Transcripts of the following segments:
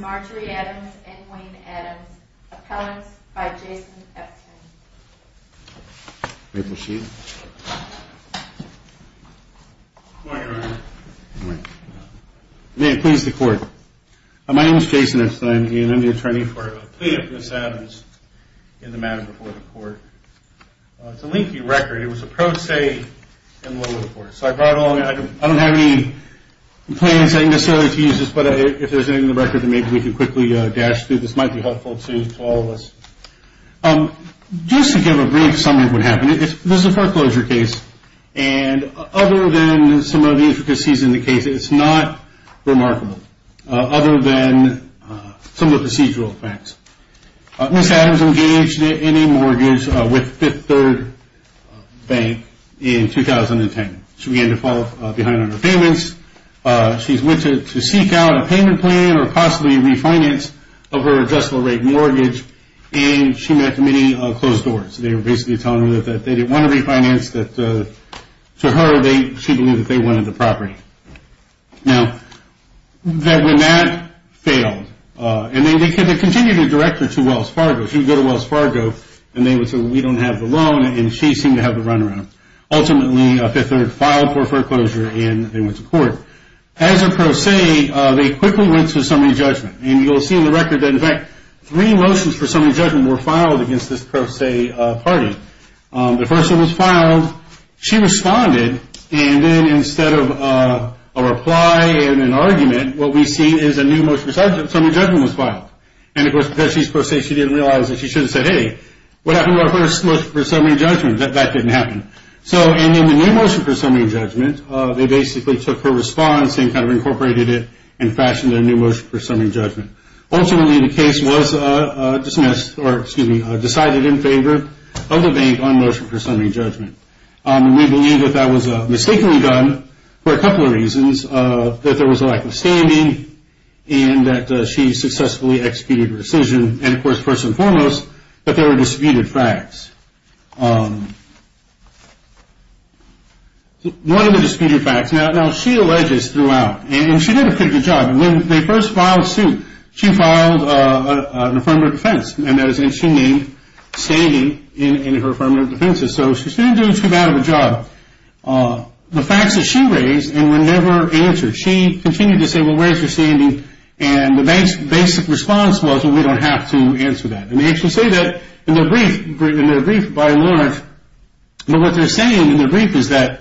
Marjorie Adams and Wayne Adams Appellants by Jason Epstein May it please the Court. My name is Jason Epstein and I'm the attorney for a plea of Ms. Adams in the matter before the Court. It's a leaky record. It was a pro se and low report. So I brought along, I don't have any plans necessarily to use this, but if there's anything in the record then maybe we can quickly dash through. This might be helpful to all of us. Just to give a brief summary of what happened. This is a foreclosure case and other than some of the intricacies in the case, it's not remarkable other than some of the procedural facts. Ms. Adams engaged in a mortgage with Fifth Third Bank in 2010. She began to fall behind on her payments. She's went to seek out a payment plan or possibly refinance of her adjustable rate mortgage and she met many closed doors. They were basically telling her that they didn't want to refinance. To her, she believed that they wanted the property. Now, when that failed, and they continued to direct her to Wells Fargo. She would go to Wells Fargo and they would say, we don't have the loan and she seemed to have the runaround. Ultimately, Fifth Third filed for foreclosure and they went to court. As a pro se, they quickly went to summary judgment. You'll see in the record that, in fact, three motions for summary judgment were filed against this pro se party. The first one was filed. She responded and then instead of a reply and an argument, what we see is a new motion for summary judgment was filed. Of course, because she's pro se, she didn't realize that she should have said, hey, what happened to our first motion for summary judgment? That didn't happen. In the new motion for summary judgment, they basically took her response and kind of incorporated it and fashioned a new motion for summary judgment. Ultimately, the case was dismissed or, excuse me, decided in favor of the bank on motion for summary judgment. We believe that that was mistakenly done for a couple of reasons. That there was a lack of standing and that she successfully executed her decision. And, of course, first and foremost, that there were disputed facts. One of the disputed facts. Now, she alleges throughout, and she did a pretty good job. When they first filed suit, she filed an affirmative defense, and she made standing in her affirmative defenses. So she's not doing too bad of a job. The facts that she raised and were never answered. She continued to say, well, where's your standing? And the bank's basic response was, well, we don't have to answer that. And they actually say that in their brief, by and large. But what they're saying in their brief is that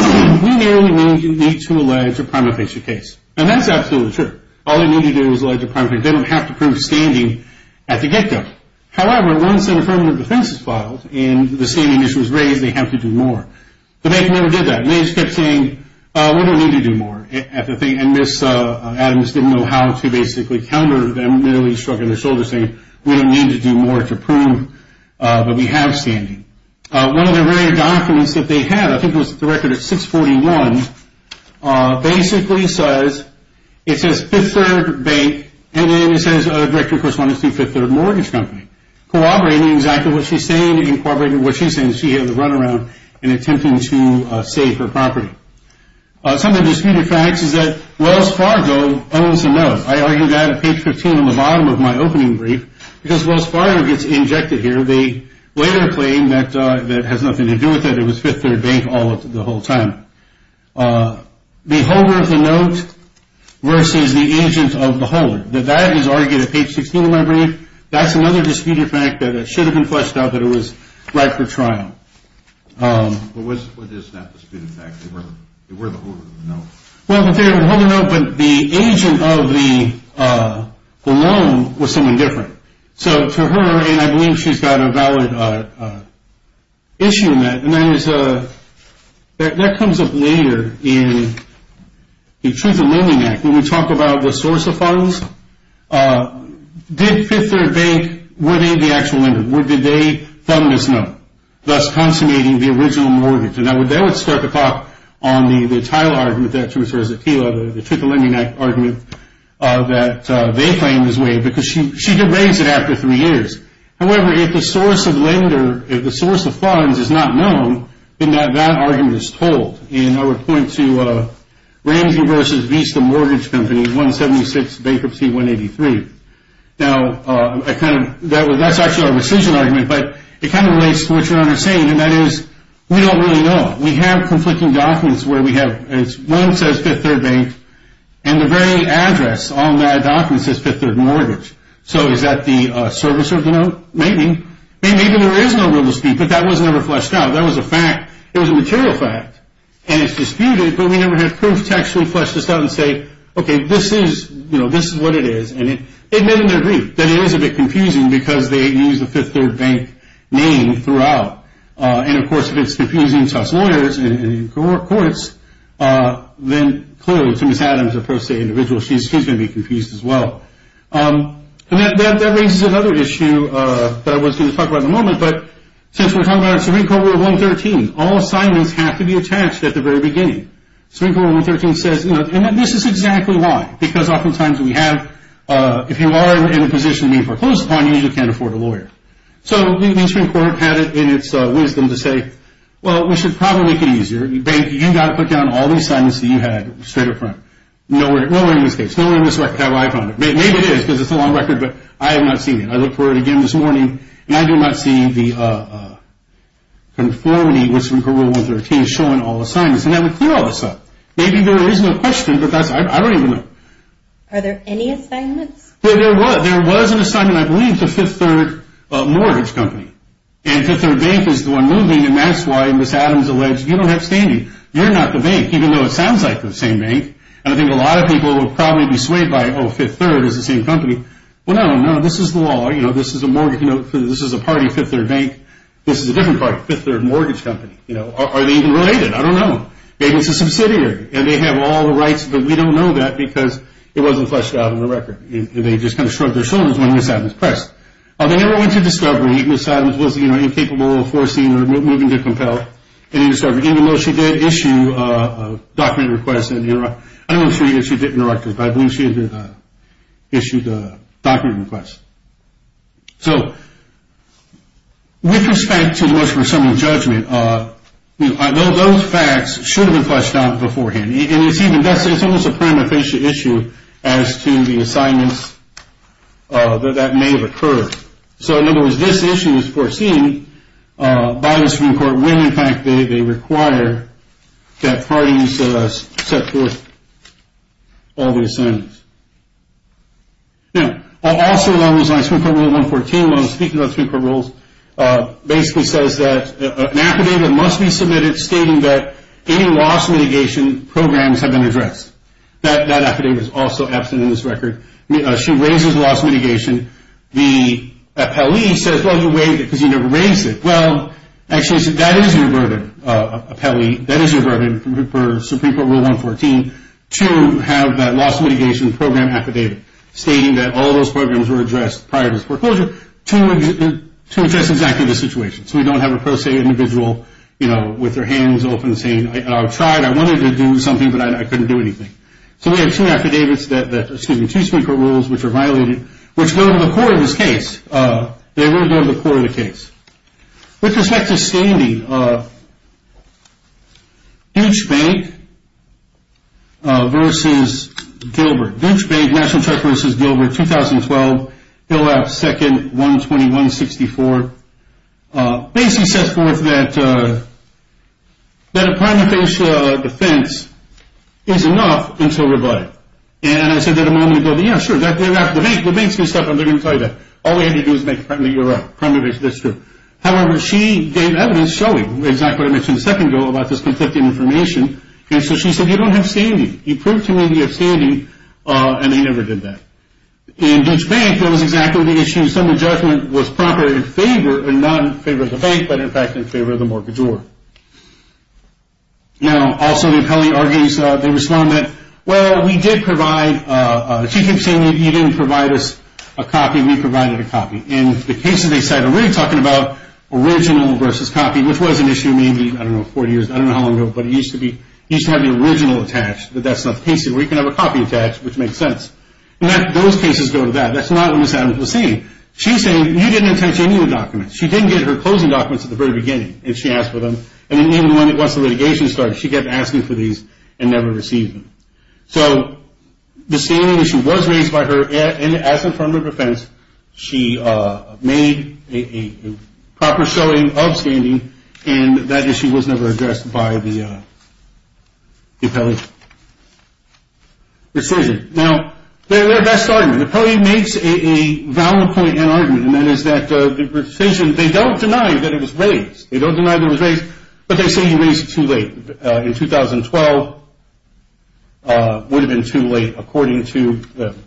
we merely need to allege a prima facie case. And that's absolutely true. All they need to do is allege a prima facie case. They don't have to prove standing at the get-go. However, once an affirmative defense is filed and the standing issue is raised, they have to do more. The bank never did that. They just kept saying, we don't need to do more. And Ms. Adams didn't know how to basically counter them. They nearly struck her in the shoulder saying, we don't need to do more to prove that we have standing. One of the rare documents that they have, I think it was the record of 641, basically says, it says Fifth Third Bank, and then it says a directory of correspondence to Fifth Third Mortgage Company, corroborating exactly what she's saying and corroborating what she's saying. She has a runaround in attempting to save her property. Some of the disputed facts is that Wells Fargo owns the note. I argue that at page 15 on the bottom of my opening brief, because Wells Fargo gets injected here. They later claim that it has nothing to do with it. It was Fifth Third Bank all of the whole time. The holder of the note versus the agent of the holder, that that is argued at page 16 of my brief, that's another disputed fact that it should have been fleshed out that it was right for trial. What is that disputed fact? They were the holder of the note. Well, they were the holder of the note, but the agent of the loan was someone different. So to her, and I believe she's got a valid issue in that, and that comes up later in the Truth in Lending Act when we talk about the source of funds. Did Fifth Third Bank, were they the actual lender? Did they fund this note, thus consummating the original mortgage? Now, they would start the talk on the title argument that she refers to, the Truth in Lending Act argument that they claim is waived, because she did raise it after three years. However, if the source of lender, if the source of funds is not known, then that argument is told. And I would point to Ramsey versus Vista Mortgage Company, 176, bankruptcy 183. Now, that's actually a rescission argument, but it kind of relates to what your Honor is saying, and that is we don't really know. We have conflicting documents where we have, one says Fifth Third Bank, and the very address on that document says Fifth Third Mortgage. So is that the service of the note? Maybe. Maybe there is no real estate, but that was never fleshed out. That was a fact. It was a material fact, and it's disputed, but we never had proof text to flesh this out and say, okay, this is, you know, this is what it is. And they admit in their brief that it is a bit confusing because they use the Fifth Third Bank name throughout. And, of course, if it's confusing to us lawyers and courts, then clearly to Ms. Adams, a pro se individual, she's going to be confused as well. And that raises another issue that I was going to talk about in a moment, but since we're talking about Supreme Court Rule 113, all assignments have to be attached at the very beginning. Supreme Court Rule 113 says, and this is exactly why, because oftentimes we have, if you are in a position being proposed upon you, you can't afford a lawyer. So the Supreme Court had it in its wisdom to say, well, we should probably make it easier. Bank, you've got to put down all the assignments that you had straight up front. Nowhere in this case, nowhere in this record have I found it. Maybe it is because it's a long record, but I have not seen it. I looked for it again this morning, and I do not see the conformity with Supreme Court Rule 113 showing all assignments, and that would clear all this up. Maybe there is no question, but I don't even know. Are there any assignments? There was an assignment, I believe, to Fifth Third Mortgage Company. And Fifth Third Bank is the one moving, and that's why Ms. Adams alleged, you don't have standing. You're not the bank, even though it sounds like the same bank. And I think a lot of people would probably be swayed by, oh, Fifth Third is the same company. Well, no, no, this is the law. This is a party, Fifth Third Bank. This is a different party, Fifth Third Mortgage Company. Are they even related? I don't know. Maybe it's a subsidiary, and they have all the rights, but we don't know that because it wasn't fleshed out on the record. They just kind of shrugged their shoulders when Ms. Adams pressed. They never went to discovery. Ms. Adams was incapable of forcing or moving to compel any discovery, even though she did issue a document request. I don't know if she did, but I believe she did issue the document request. So with respect to most presumptive judgment, those facts should have been fleshed out beforehand. It's almost a prima facie issue as to the assignments that may have occurred. So, in other words, this issue is foreseen by the Supreme Court when, in fact, they require that parties set forth all the assignments. Now, also along those lines, Supreme Court Rule 114, when I was speaking about Supreme Court rules, basically says that an affidavit must be submitted stating that any loss mitigation programs have been addressed. That affidavit is also absent in this record. She raises loss mitigation. The appellee says, well, you waived it because you never raised it. Well, actually, that is your burden, appellee. That is your burden for Supreme Court Rule 114 to have that loss mitigation program affidavit stating that all those programs were addressed prior to foreclosure to address exactly the situation. So we don't have a pro se individual, you know, with their hands open saying, I tried, I wanted to do something, but I couldn't do anything. So we have two affidavits that, excuse me, two Supreme Court rules which are violated, which go to the core of this case. They really go to the core of the case. With respect to standing, Dutch Bank v. Gilbert. Dutch Bank, National Trust v. Gilbert, 2012, Hill House, 2nd, 120-164. Basically says forth that a prima facie defense is enough until rebutted. And I said that a moment ago. Yeah, sure, the bank's messed up, I'm not going to tell you that. All we had to do was make it primarily Europe, primarily this group. However, she gave evidence showing exactly what I mentioned a second ago about this conflicting information. And so she said, you don't have standing. You proved to me you have standing, and they never did that. In Dutch Bank, that was exactly the issue. Some of the judgment was proper in favor, or not in favor of the bank, but in fact in favor of the mortgagor. Now, also the appellee argues, they respond that, well, we did provide, she keeps saying you didn't provide us a copy, we provided a copy. And the cases they cite are really talking about original versus copy, which was an issue maybe, I don't know, 40 years, I don't know how long ago, but it used to be, it used to have the original attached, but that's not the case anymore. You can have a copy attached, which makes sense. And those cases go to that. That's not what Ms. Adams was saying. She's saying you didn't attach any of the documents. She didn't get her closing documents at the very beginning, if she asked for them. And even once the litigation started, she kept asking for these and never received them. So the standing issue was raised by her, and as a form of defense, she made a proper showing of standing, and that issue was never addressed by the appellee. Decision. Now, their best argument, the appellee makes a valid point and argument, and that is that the decision, they don't deny that it was raised, they don't deny that it was raised, but they say you raised it too late. In 2012, it would have been too late, according to them.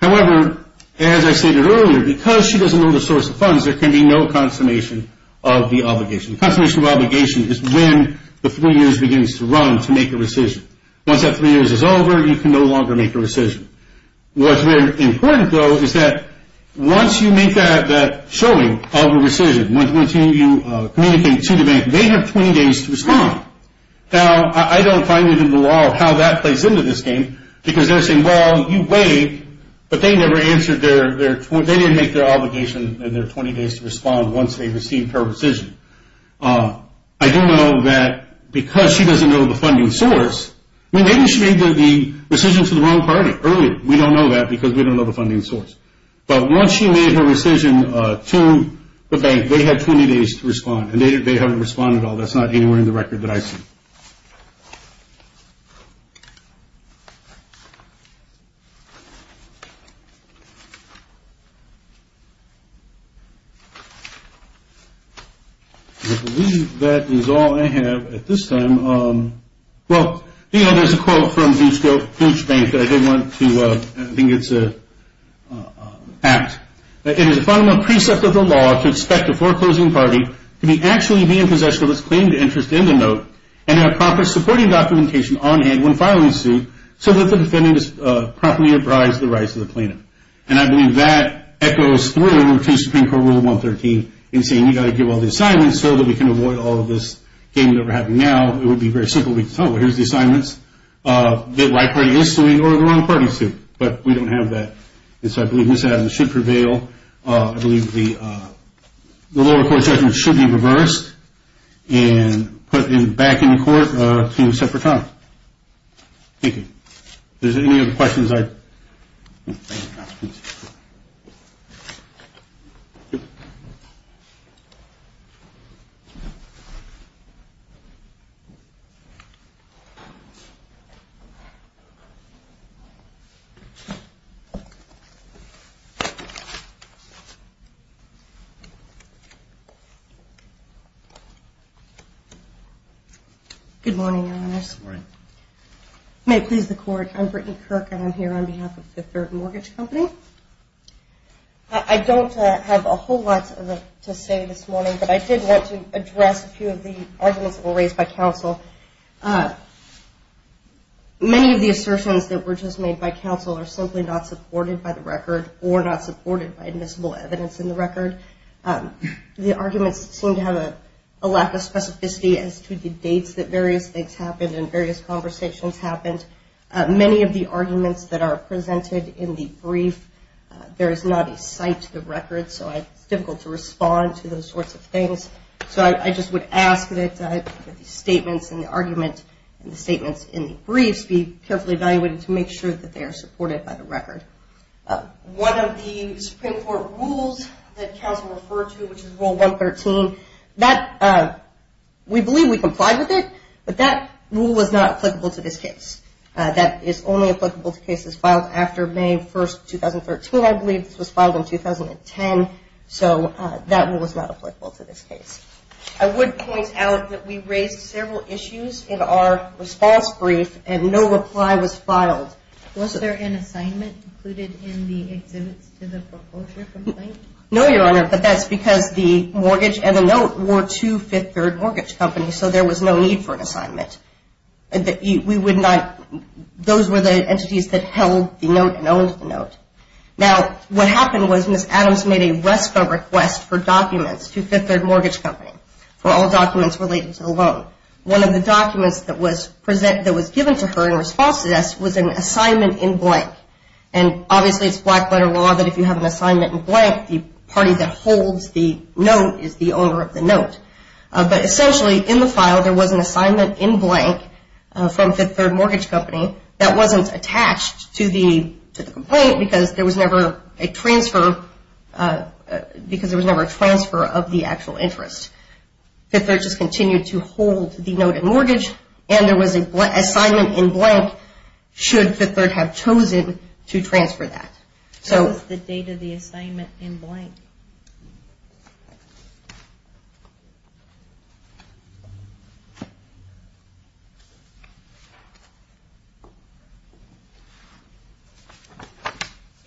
However, as I stated earlier, because she doesn't know the source of funds, there can be no consummation of the obligation. Consummation of obligation is when the three years begins to run to make a decision. Once that three years is over, you can no longer make a decision. What's very important, though, is that once you make that showing of a decision, once you communicate to the bank, they have 20 days to respond. Now, I don't find it in the law how that plays into this game, because they're saying, well, you waived, but they never answered their 20, they didn't make their obligation in their 20 days to respond once they received her decision. I do know that because she doesn't know the funding source, maybe she made the decision to the wrong party earlier. We don't know that because we don't know the funding source. But once she made her decision to the bank, they had 20 days to respond, and they haven't responded at all. That's not anywhere in the record that I see. I believe that is all I have at this time. Well, there's a quote from Deutsch Bank that I did want to – I think it's an act. It is a fundamental precept of the law to expect a foreclosing party to actually be in possession of its claimed interest in the note and have proper supporting documentation on hand when filing the suit so that the defendant is properly apprised of the rights of the plaintiff. And I believe that echoes through to Supreme Court Rule 113 in saying you've got to give all the assignments so that we can avoid all of this game that we're having now. It would be very simple. We could tell, well, here's the assignments. The right party is to read or the wrong party is to, but we don't have that. And so I believe Ms. Adams should prevail. I believe the lower court judgment should be reversed and put back in court to a separate time. Thank you. If there's any other questions, I – Good morning, Your Honor. Good morning. You may please the court. I'm Brittany Kirk and I'm here on behalf of the Third Mortgage Company. I don't have a whole lot to say this morning, but I did want to address a few of the arguments that were raised by counsel. Many of the assertions that were just made by counsel are simply not supported by the record or not supported by admissible evidence in the record. The arguments seem to have a lack of specificity as to the dates that various things happened and various conversations happened. Many of the arguments that are presented in the brief, there is not a cite to the record, so it's difficult to respond to those sorts of things. So I just would ask that the statements in the argument and the statements in the briefs be carefully evaluated to make sure that they are supported by the record. One of the Supreme Court rules that counsel referred to, which is Rule 113, that – we believe we complied with it, but that rule was not applicable to this case. That is only applicable to cases filed after May 1st, 2013. I believe this was filed in 2010, so that rule was not applicable to this case. I would point out that we raised several issues in our response brief and no reply was filed. Was there an assignment included in the exhibits to the foreclosure complaint? No, Your Honor, but that's because the mortgage and the note were to Fifth Third Mortgage Company, so there was no need for an assignment. We would not – those were the entities that held the note and owned the note. Now, what happened was Ms. Adams made a RESCO request for documents to Fifth Third Mortgage Company for all documents related to the loan. One of the documents that was given to her in response to this was an assignment in blank, and obviously it's black-letter law that if you have an assignment in blank, the party that holds the note is the owner of the note. But essentially, in the file, there was an assignment in blank from Fifth Third Mortgage Company that wasn't attached to the complaint because there was never a transfer of the actual interest. Fifth Third just continued to hold the note and mortgage, and there was an assignment in blank should Fifth Third have chosen to transfer that. What was the date of the assignment in blank?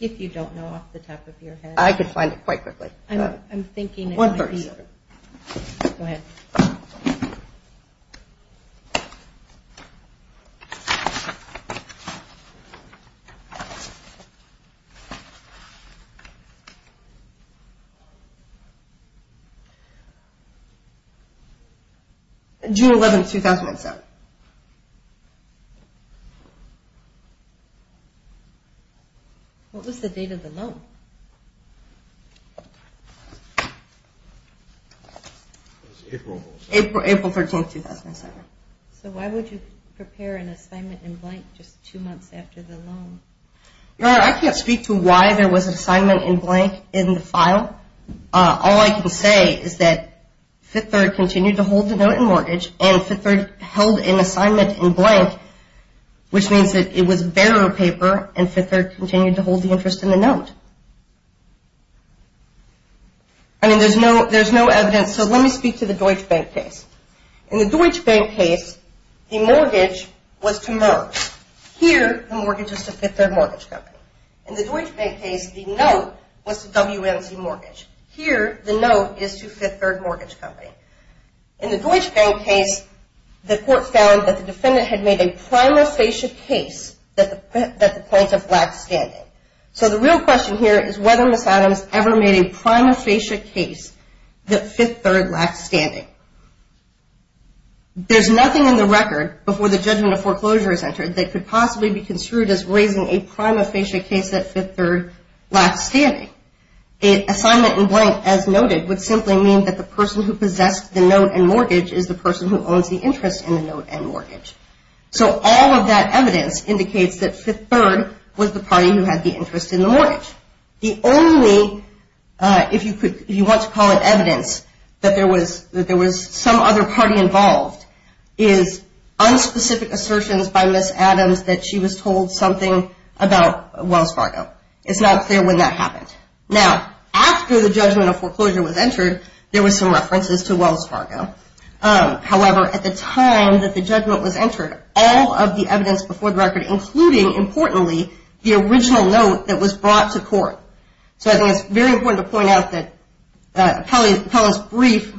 If you don't know off the top of your head. I can find it quite quickly. One first. Go ahead. June 11, 2007. Correct. What was the date of the loan? April 13, 2007. So why would you prepare an assignment in blank just two months after the loan? Your Honor, I can't speak to why there was an assignment in blank in the file. All I can say is that Fifth Third continued to hold the note and mortgage, and Fifth Third held an assignment in blank, which means that it was bearer paper, and Fifth Third continued to hold the interest in the note. I mean, there's no evidence, so let me speak to the Deutsche Bank case. In the Deutsche Bank case, the mortgage was to Merck. Here, the mortgage is to Fifth Third Mortgage Company. In the Deutsche Bank case, the note was to WMC Mortgage. Here, the note is to Fifth Third Mortgage Company. In the Deutsche Bank case, the court found that the defendant had made a prima facie case that the plaintiff lacked standing. So the real question here is whether Ms. Adams ever made a prima facie case that Fifth Third lacked standing. There's nothing in the record before the judgment of foreclosure is entered that could possibly be construed as raising a prima facie case that Fifth Third lacked standing. An assignment in blank, as noted, would simply mean that the person who possessed the note and mortgage is the person who owns the interest in the note and mortgage. So all of that evidence indicates that Fifth Third was the party who had the interest in the mortgage. The only, if you want to call it evidence, that there was some other party involved is unspecific assertions by Ms. Adams that she was told something about Wells Fargo. It's not clear when that happened. Now, after the judgment of foreclosure was entered, there were some references to Wells Fargo. However, at the time that the judgment was entered, all of the evidence before the record, including, importantly, the original note that was brought to court. So I think it's very important to point out that Appellant's brief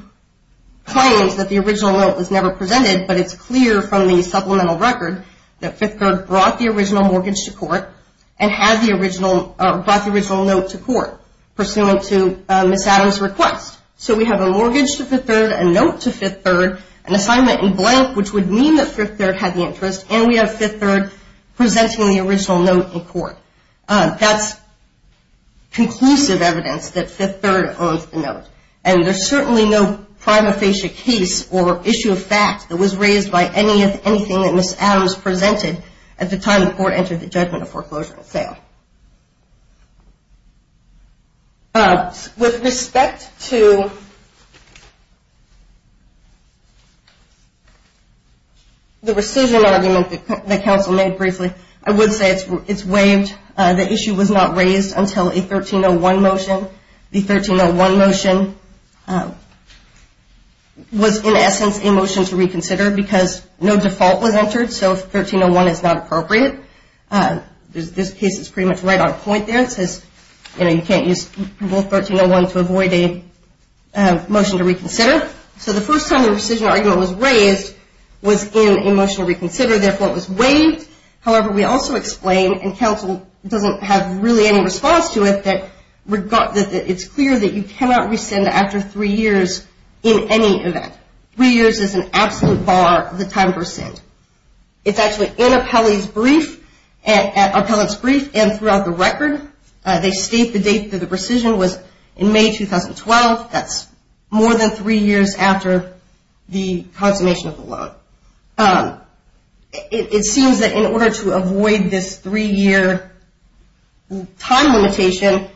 claims that the original note was never presented, but it's clear from the supplemental record that Fifth Third brought the original mortgage to court and brought the original note to court pursuant to Ms. Adams' request. So we have a mortgage to Fifth Third, a note to Fifth Third, an assignment in blank, which would mean that Fifth Third had the interest, and we have Fifth Third presenting the original note in court. That's conclusive evidence that Fifth Third owns the note, and there's certainly no prima facie case or issue of fact that was raised by anything that Ms. Adams presented at the time the court entered the judgment of foreclosure sale. With respect to the rescission argument that counsel made briefly, I would say it's waived. The issue was not raised until a 1301 motion. The 1301 motion was, in essence, a motion to reconsider because no default was entered, so 1301 is not appropriate. This case is pretty much right on point there. It says, you know, you can't use both 1301 to avoid a motion to reconsider. So the first time the rescission argument was raised was in a motion to reconsider. Therefore, it was waived. However, we also explain, and counsel doesn't have really any response to it, that it's clear that you cannot rescind after three years in any event. Three years is an absolute bar of the time to rescind. It's actually in appellate's brief and throughout the record. They state the date that the rescission was in May 2012. That's more than three years after the consummation of the loan. It seems that in order to avoid this three-year time limitation,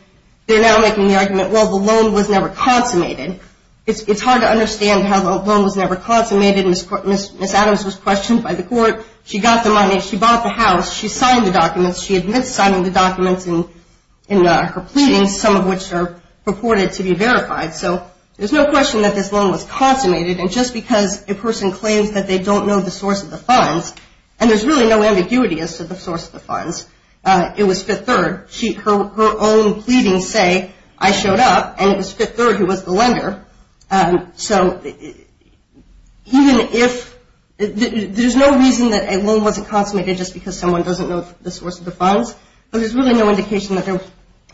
they're now making the argument, well, the loan was never consummated. It's hard to understand how the loan was never consummated. Ms. Adams was questioned by the court. She got the money. She bought the house. She signed the documents. She admits signing the documents in her pleadings, some of which are purported to be verified. So there's no question that this loan was consummated, and just because a person claims that they don't know the source of the funds, and there's really no ambiguity as to the source of the funds. It was Fifth Third. Her own pleadings say, I showed up, and it was Fifth Third who was the lender. So even if – there's no reason that a loan wasn't consummated just because someone doesn't know the source of the funds, but there's really no indication that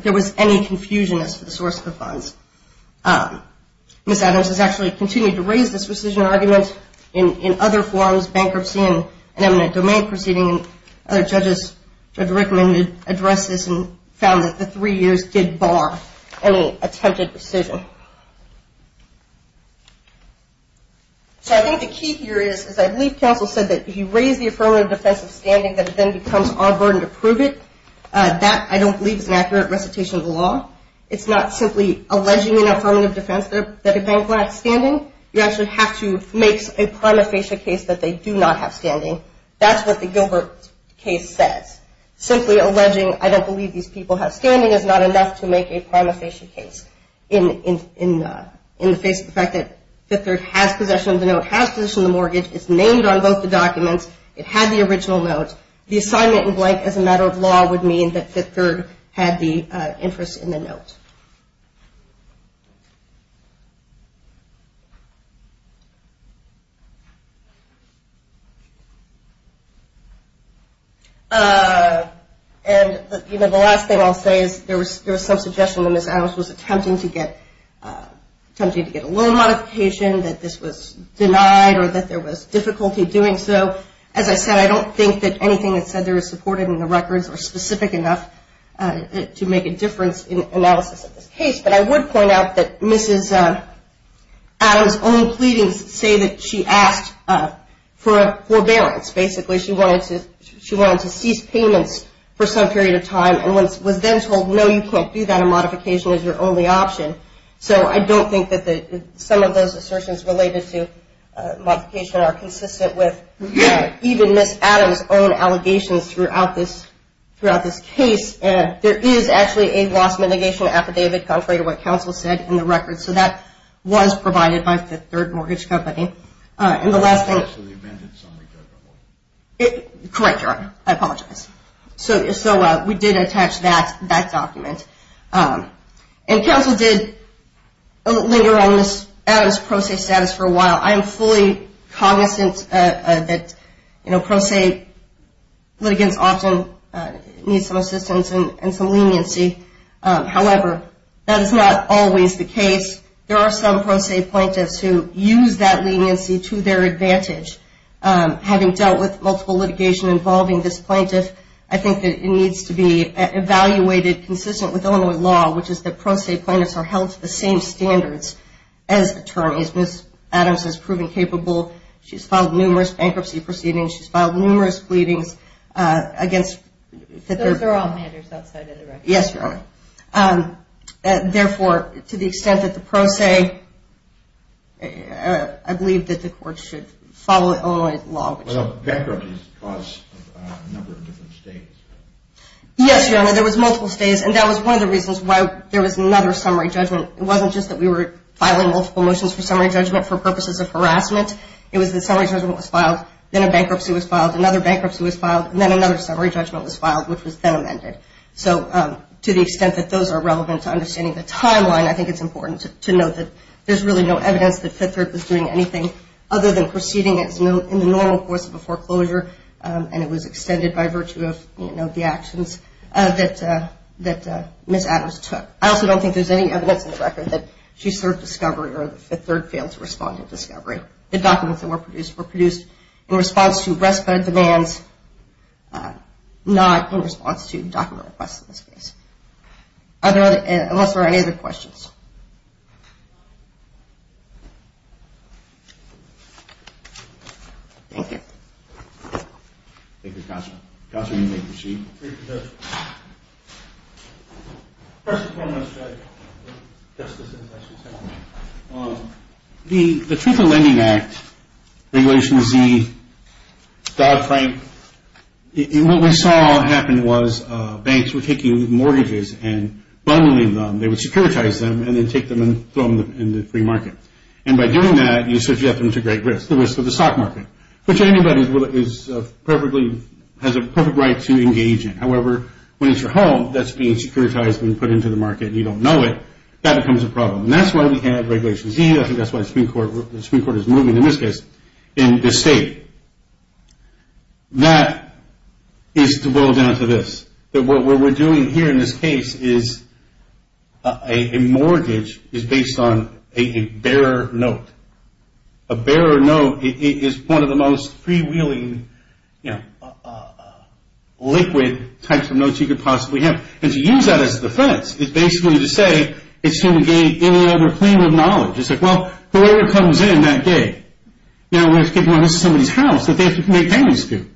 there was any confusion as to the source of the funds. Ms. Adams has actually continued to raise this rescission argument in other forms, bankruptcy and eminent domain proceeding. Other judges have recommended, addressed this, and found that the three years did bar any attempted rescission. So I think the key here is I believe counsel said that if you raise the affirmative defense of standing, that it then becomes our burden to prove it. That, I don't believe, is an accurate recitation of the law. It's not simply alleging an affirmative defense that a bank lacks standing. You actually have to make a prima facie case that they do not have standing. That's what the Gilbert case says. Simply alleging, I don't believe these people have standing, is not enough to make a prima facie case in the face of the fact that Fifth Third has possession of the note, has possession of the mortgage. It's named on both the documents. It had the original note. The assignment in blank as a matter of law would mean that Fifth Third had the interest in the note. And the last thing I'll say is there was some suggestion that Ms. Adams was attempting to get a loan modification, that this was denied or that there was difficulty doing so. As I said, I don't think that anything that's said there is supported in the records or specific enough to make a difference in analysis of this case. But I would point out that Ms. Adams' own pleadings say that she asked for a forbearance. Basically, she wanted to cease payments for some period of time and was then told, no, you can't do that. A modification is your only option. So I don't think that some of those assertions related to modification are consistent with even Ms. Adams' own allegations throughout this case. There is actually a loss mitigation affidavit contrary to what counsel said in the records. So that was provided by Fifth Third Mortgage Company. And the last thing. Correct, Your Honor. I apologize. So we did attach that document. And counsel did linger on Ms. Adams' pro se status for a while. I am fully cognizant that pro se litigants often need some assistance and some leniency. However, that is not always the case. There are some pro se plaintiffs who use that leniency to their advantage. Having dealt with multiple litigation involving this plaintiff, I think that it needs to be evaluated consistent with Illinois law, which is that pro se plaintiffs are held to the same standards as attorneys. Ms. Adams has proven capable. She's filed numerous bankruptcy proceedings. She's filed numerous pleadings against. Those are all matters outside of the records. Yes, Your Honor. Therefore, to the extent that the pro se, I believe that the court should follow Illinois law. Bankruptcy is the cause of a number of different states. Yes, Your Honor. There was multiple states. And that was one of the reasons why there was another summary judgment. It wasn't just that we were filing multiple motions for summary judgment for purposes of harassment. It was the summary judgment was filed. Then a bankruptcy was filed. Another bankruptcy was filed. And then another summary judgment was filed, which was then amended. So to the extent that those are relevant to understanding the timeline, I think it's important to note that there's really no evidence that Fifth Third was doing anything other than proceeding in the normal course of a foreclosure, and it was extended by virtue of the actions that Ms. Adams took. I also don't think there's any evidence in the record that she served discovery or that Fifth Third failed to respond to discovery. The documents that were produced were produced in response to respite demands, not in response to document requests in this case, unless there are any other questions. Thank you. Thank you, Counselor. Counselor, you may proceed. Thank you, Judge. First of all, my strategy. The Truth in Lending Act, Regulation Z, Dodd-Frank, what we saw happen was banks were taking mortgages and bundling them. They would securitize them and then take them and throw them in the free market. And by doing that, you subject them to great risk, the risk of the stock market, which anybody has a perfect right to engage in. However, when it's your home that's being securitized and put into the market and you don't know it, that becomes a problem. And that's why we have Regulation Z. I think that's why the Supreme Court is moving, in this case, in this state. That is to boil down to this, that what we're doing here in this case is a mortgage is based on a bearer note. A bearer note is one of the most freewheeling liquid types of notes you could possibly have. And to use that as a defense is basically to say it's to negate any other claim of knowledge. It's like, well, whoever comes in that day, you know, they're taking somebody's house that they have to make payments to.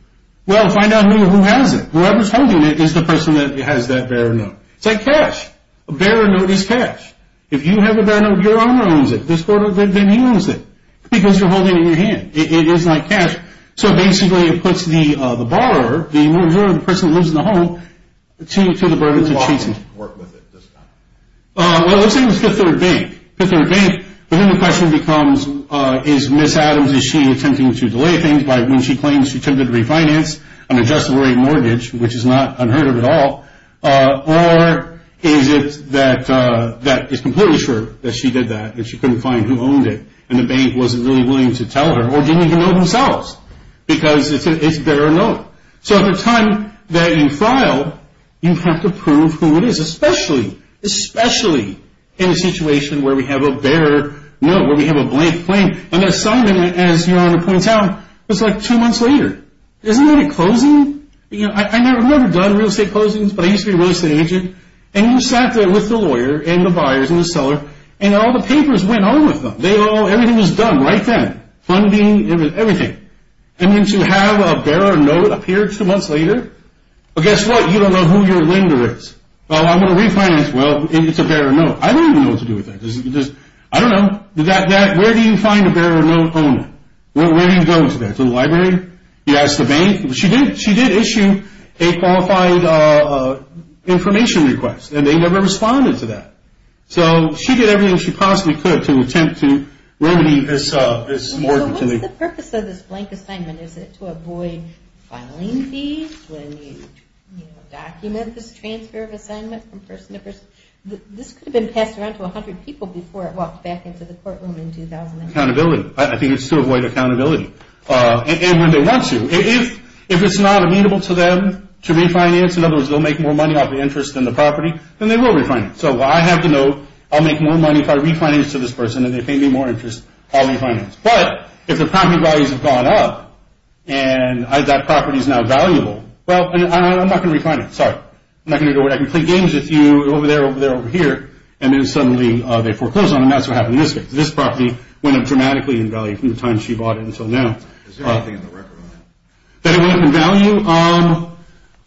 Well, find out who has it. Whoever's holding it is the person that has that bearer note. It's like cash. A bearer note is cash. If you have a bearer note, your owner owns it this quarter, then he owns it, because you're holding it in your hand. It is like cash. So, basically, it puts the borrower, the owner, the person who lives in the home, to the burden to treat them. Who's going to work with it this time? Well, let's say it was Fifth Third Bank. Fifth Third Bank, then the question becomes, is Ms. Adams, is she attempting to delay things by when she claims she attempted to refinance an adjustable rate mortgage, which is not unheard of at all, or is it that it's completely sure that she did that, that she couldn't find who owned it and the bank wasn't really willing to tell her or didn't even know themselves because it's a bearer note. So at the time that you file, you have to prove who it is, especially, especially in a situation where we have a bearer note, where we have a blank claim. An assignment, as Your Honor points out, was like two months later. Isn't that a closing? I've never done real estate closings, but I used to be a real estate agent. And you sat there with the lawyer and the buyers and the seller, and all the papers went on with them. Everything was done right then. Funding, everything. And then to have a bearer note appear two months later, well, guess what? You don't know who your lender is. Well, I'm going to refinance. Well, it's a bearer note. I don't even know what to do with that. I don't know. Where do you find a bearer note owner? Where do you go to that? To the library? You ask the bank? She did issue a qualified information request, and they never responded to that. So she did everything she possibly could to attempt to remedy this morgue. Well, what's the purpose of this blank assignment? Is it to avoid filing fees when you document this transfer of assignment from person to person? This could have been passed around to 100 people before it walked back into the courtroom in 2009. Accountability. I think it's to avoid accountability. And when they want to. If it's not amenable to them to refinance, in other words, they'll make more money off the interest in the property, then they will refinance. So I have to know I'll make more money if I refinance to this person, and if they pay me more interest, I'll refinance. But if the property values have gone up and that property is now valuable, well, I'm not going to refinance. Sorry. I'm not going to do it. I can play games with you over there, over there, over here. And then suddenly they foreclose on them. That's what happened in this case. This property went up dramatically in value from the time she bought it until now. Is there anything in the record on that? That it went up in value?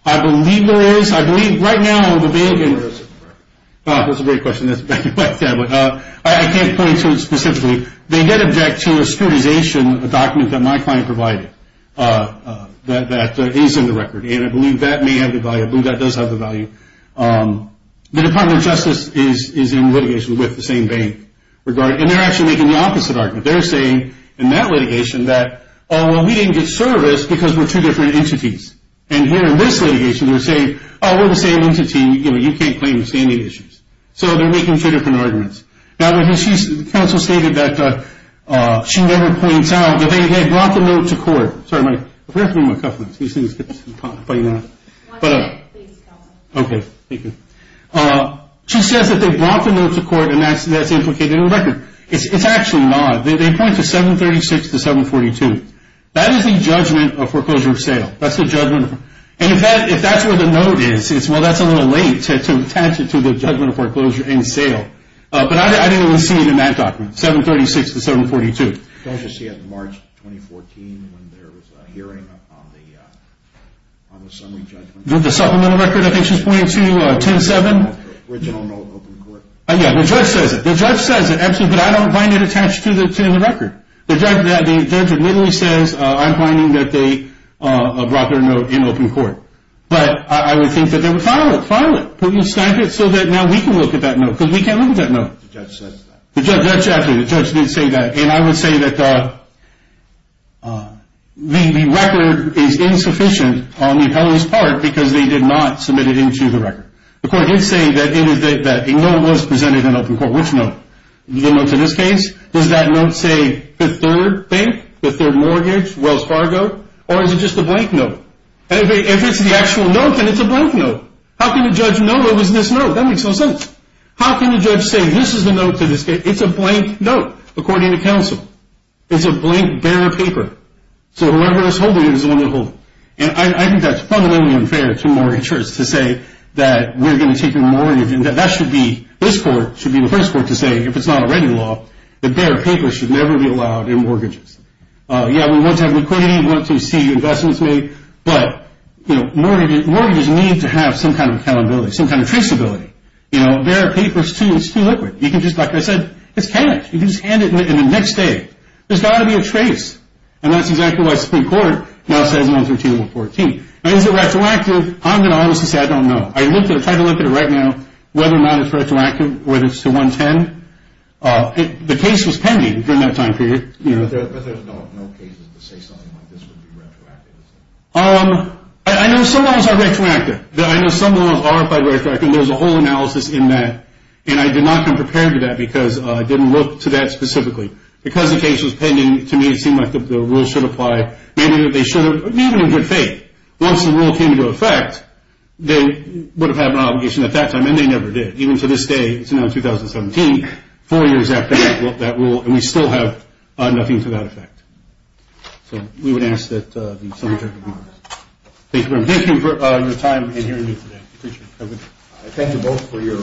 I believe there is. I believe right now on the bank. Where is it in the record? That's a great question. I can't point to it specifically. They did object to a securitization document that my client provided that is in the record, and I believe that may have the value. I believe that does have the value. The Department of Justice is in litigation with the same bank. And they're actually making the opposite argument. They're saying in that litigation that, oh, well, we didn't get service because we're two different entities. And here in this litigation they're saying, oh, we're the same entity, you know, you can't claim standing issues. So they're making two different arguments. Now, the counsel stated that she never points out that they had brought the note to court. Sorry, Mike. I forgot to bring my cufflinks. Can you see this? Okay. Thank you. She says that they brought the note to court and that's implicated in the record. It's actually not. They point to 736 to 742. That is the judgment of foreclosure of sale. That's the judgment. And, in fact, if that's where the note is, well, that's a little late to attach it to the judgment of foreclosure and sale. But I didn't see it in that document, 736 to 742. Don't you see it in March 2014 when there was a hearing on the summary judgment? The supplemental record? I think she's pointing to 10-7. The original note in open court. Yeah, the judge says it. The judge says it, absolutely, but I don't find it attached to the record. The judge admittedly says I'm finding that they brought their note in open court. But I would think that they would file it, file it, put it in standards so that now we can look at that note because we can't look at that note. The judge says that. The judge did say that. And I would say that the record is insufficient on the appellee's part because they did not submit it into the record. The court did say that a note was presented in open court. Which note? The note in this case? Does that note say the third thing, the third mortgage, Wells Fargo, or is it just a blank note? If it's the actual note, then it's a blank note. How can a judge know it was this note? That makes no sense. How can a judge say this is the note to this case? It's a blank note, according to counsel. It's a blank, bare paper. So whoever is holding it is the one that will hold it. And I think that's fundamentally unfair to mortgagors to say that we're going to take your mortgage. And that should be, this court should be the first court to say, if it's not a regular law, that bare paper should never be allowed in mortgages. Yeah, we want to have liquidity, we want to see investments made, but, you know, mortgages need to have some kind of accountability, some kind of traceability. You know, bare paper is too liquid. You can just, like I said, just hand it. You can just hand it, and the next day, there's got to be a trace. And that's exactly why Supreme Court now says 113 and 114. Now, is it retroactive? I'm going to honestly say I don't know. I looked at it, tried to look at it right now, whether or not it's retroactive, whether it's to 110. The case was pending during that time period. But there's no cases to say something like this would be retroactive. I know some laws are retroactive. I know some laws are retroactive. And there's a whole analysis in that. And I did not come prepared to that because I didn't look to that specifically. Because the case was pending, to me, it seemed like the rule should apply. Maybe they should have. Maybe in good faith. Once the rule came into effect, they would have had an obligation at that time, and they never did. Even to this day, it's now 2017, four years after that rule, and we still have nothing to that effect. So we would ask that the subject be removed. Thank you very much. Thank you for your time and hearing me today. I appreciate it. Thank you both for your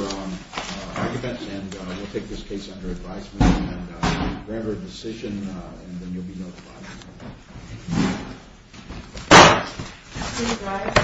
argument, and we'll take this case under advisement. And if you can render a decision, then you'll be notified. Thank you for this course meeting.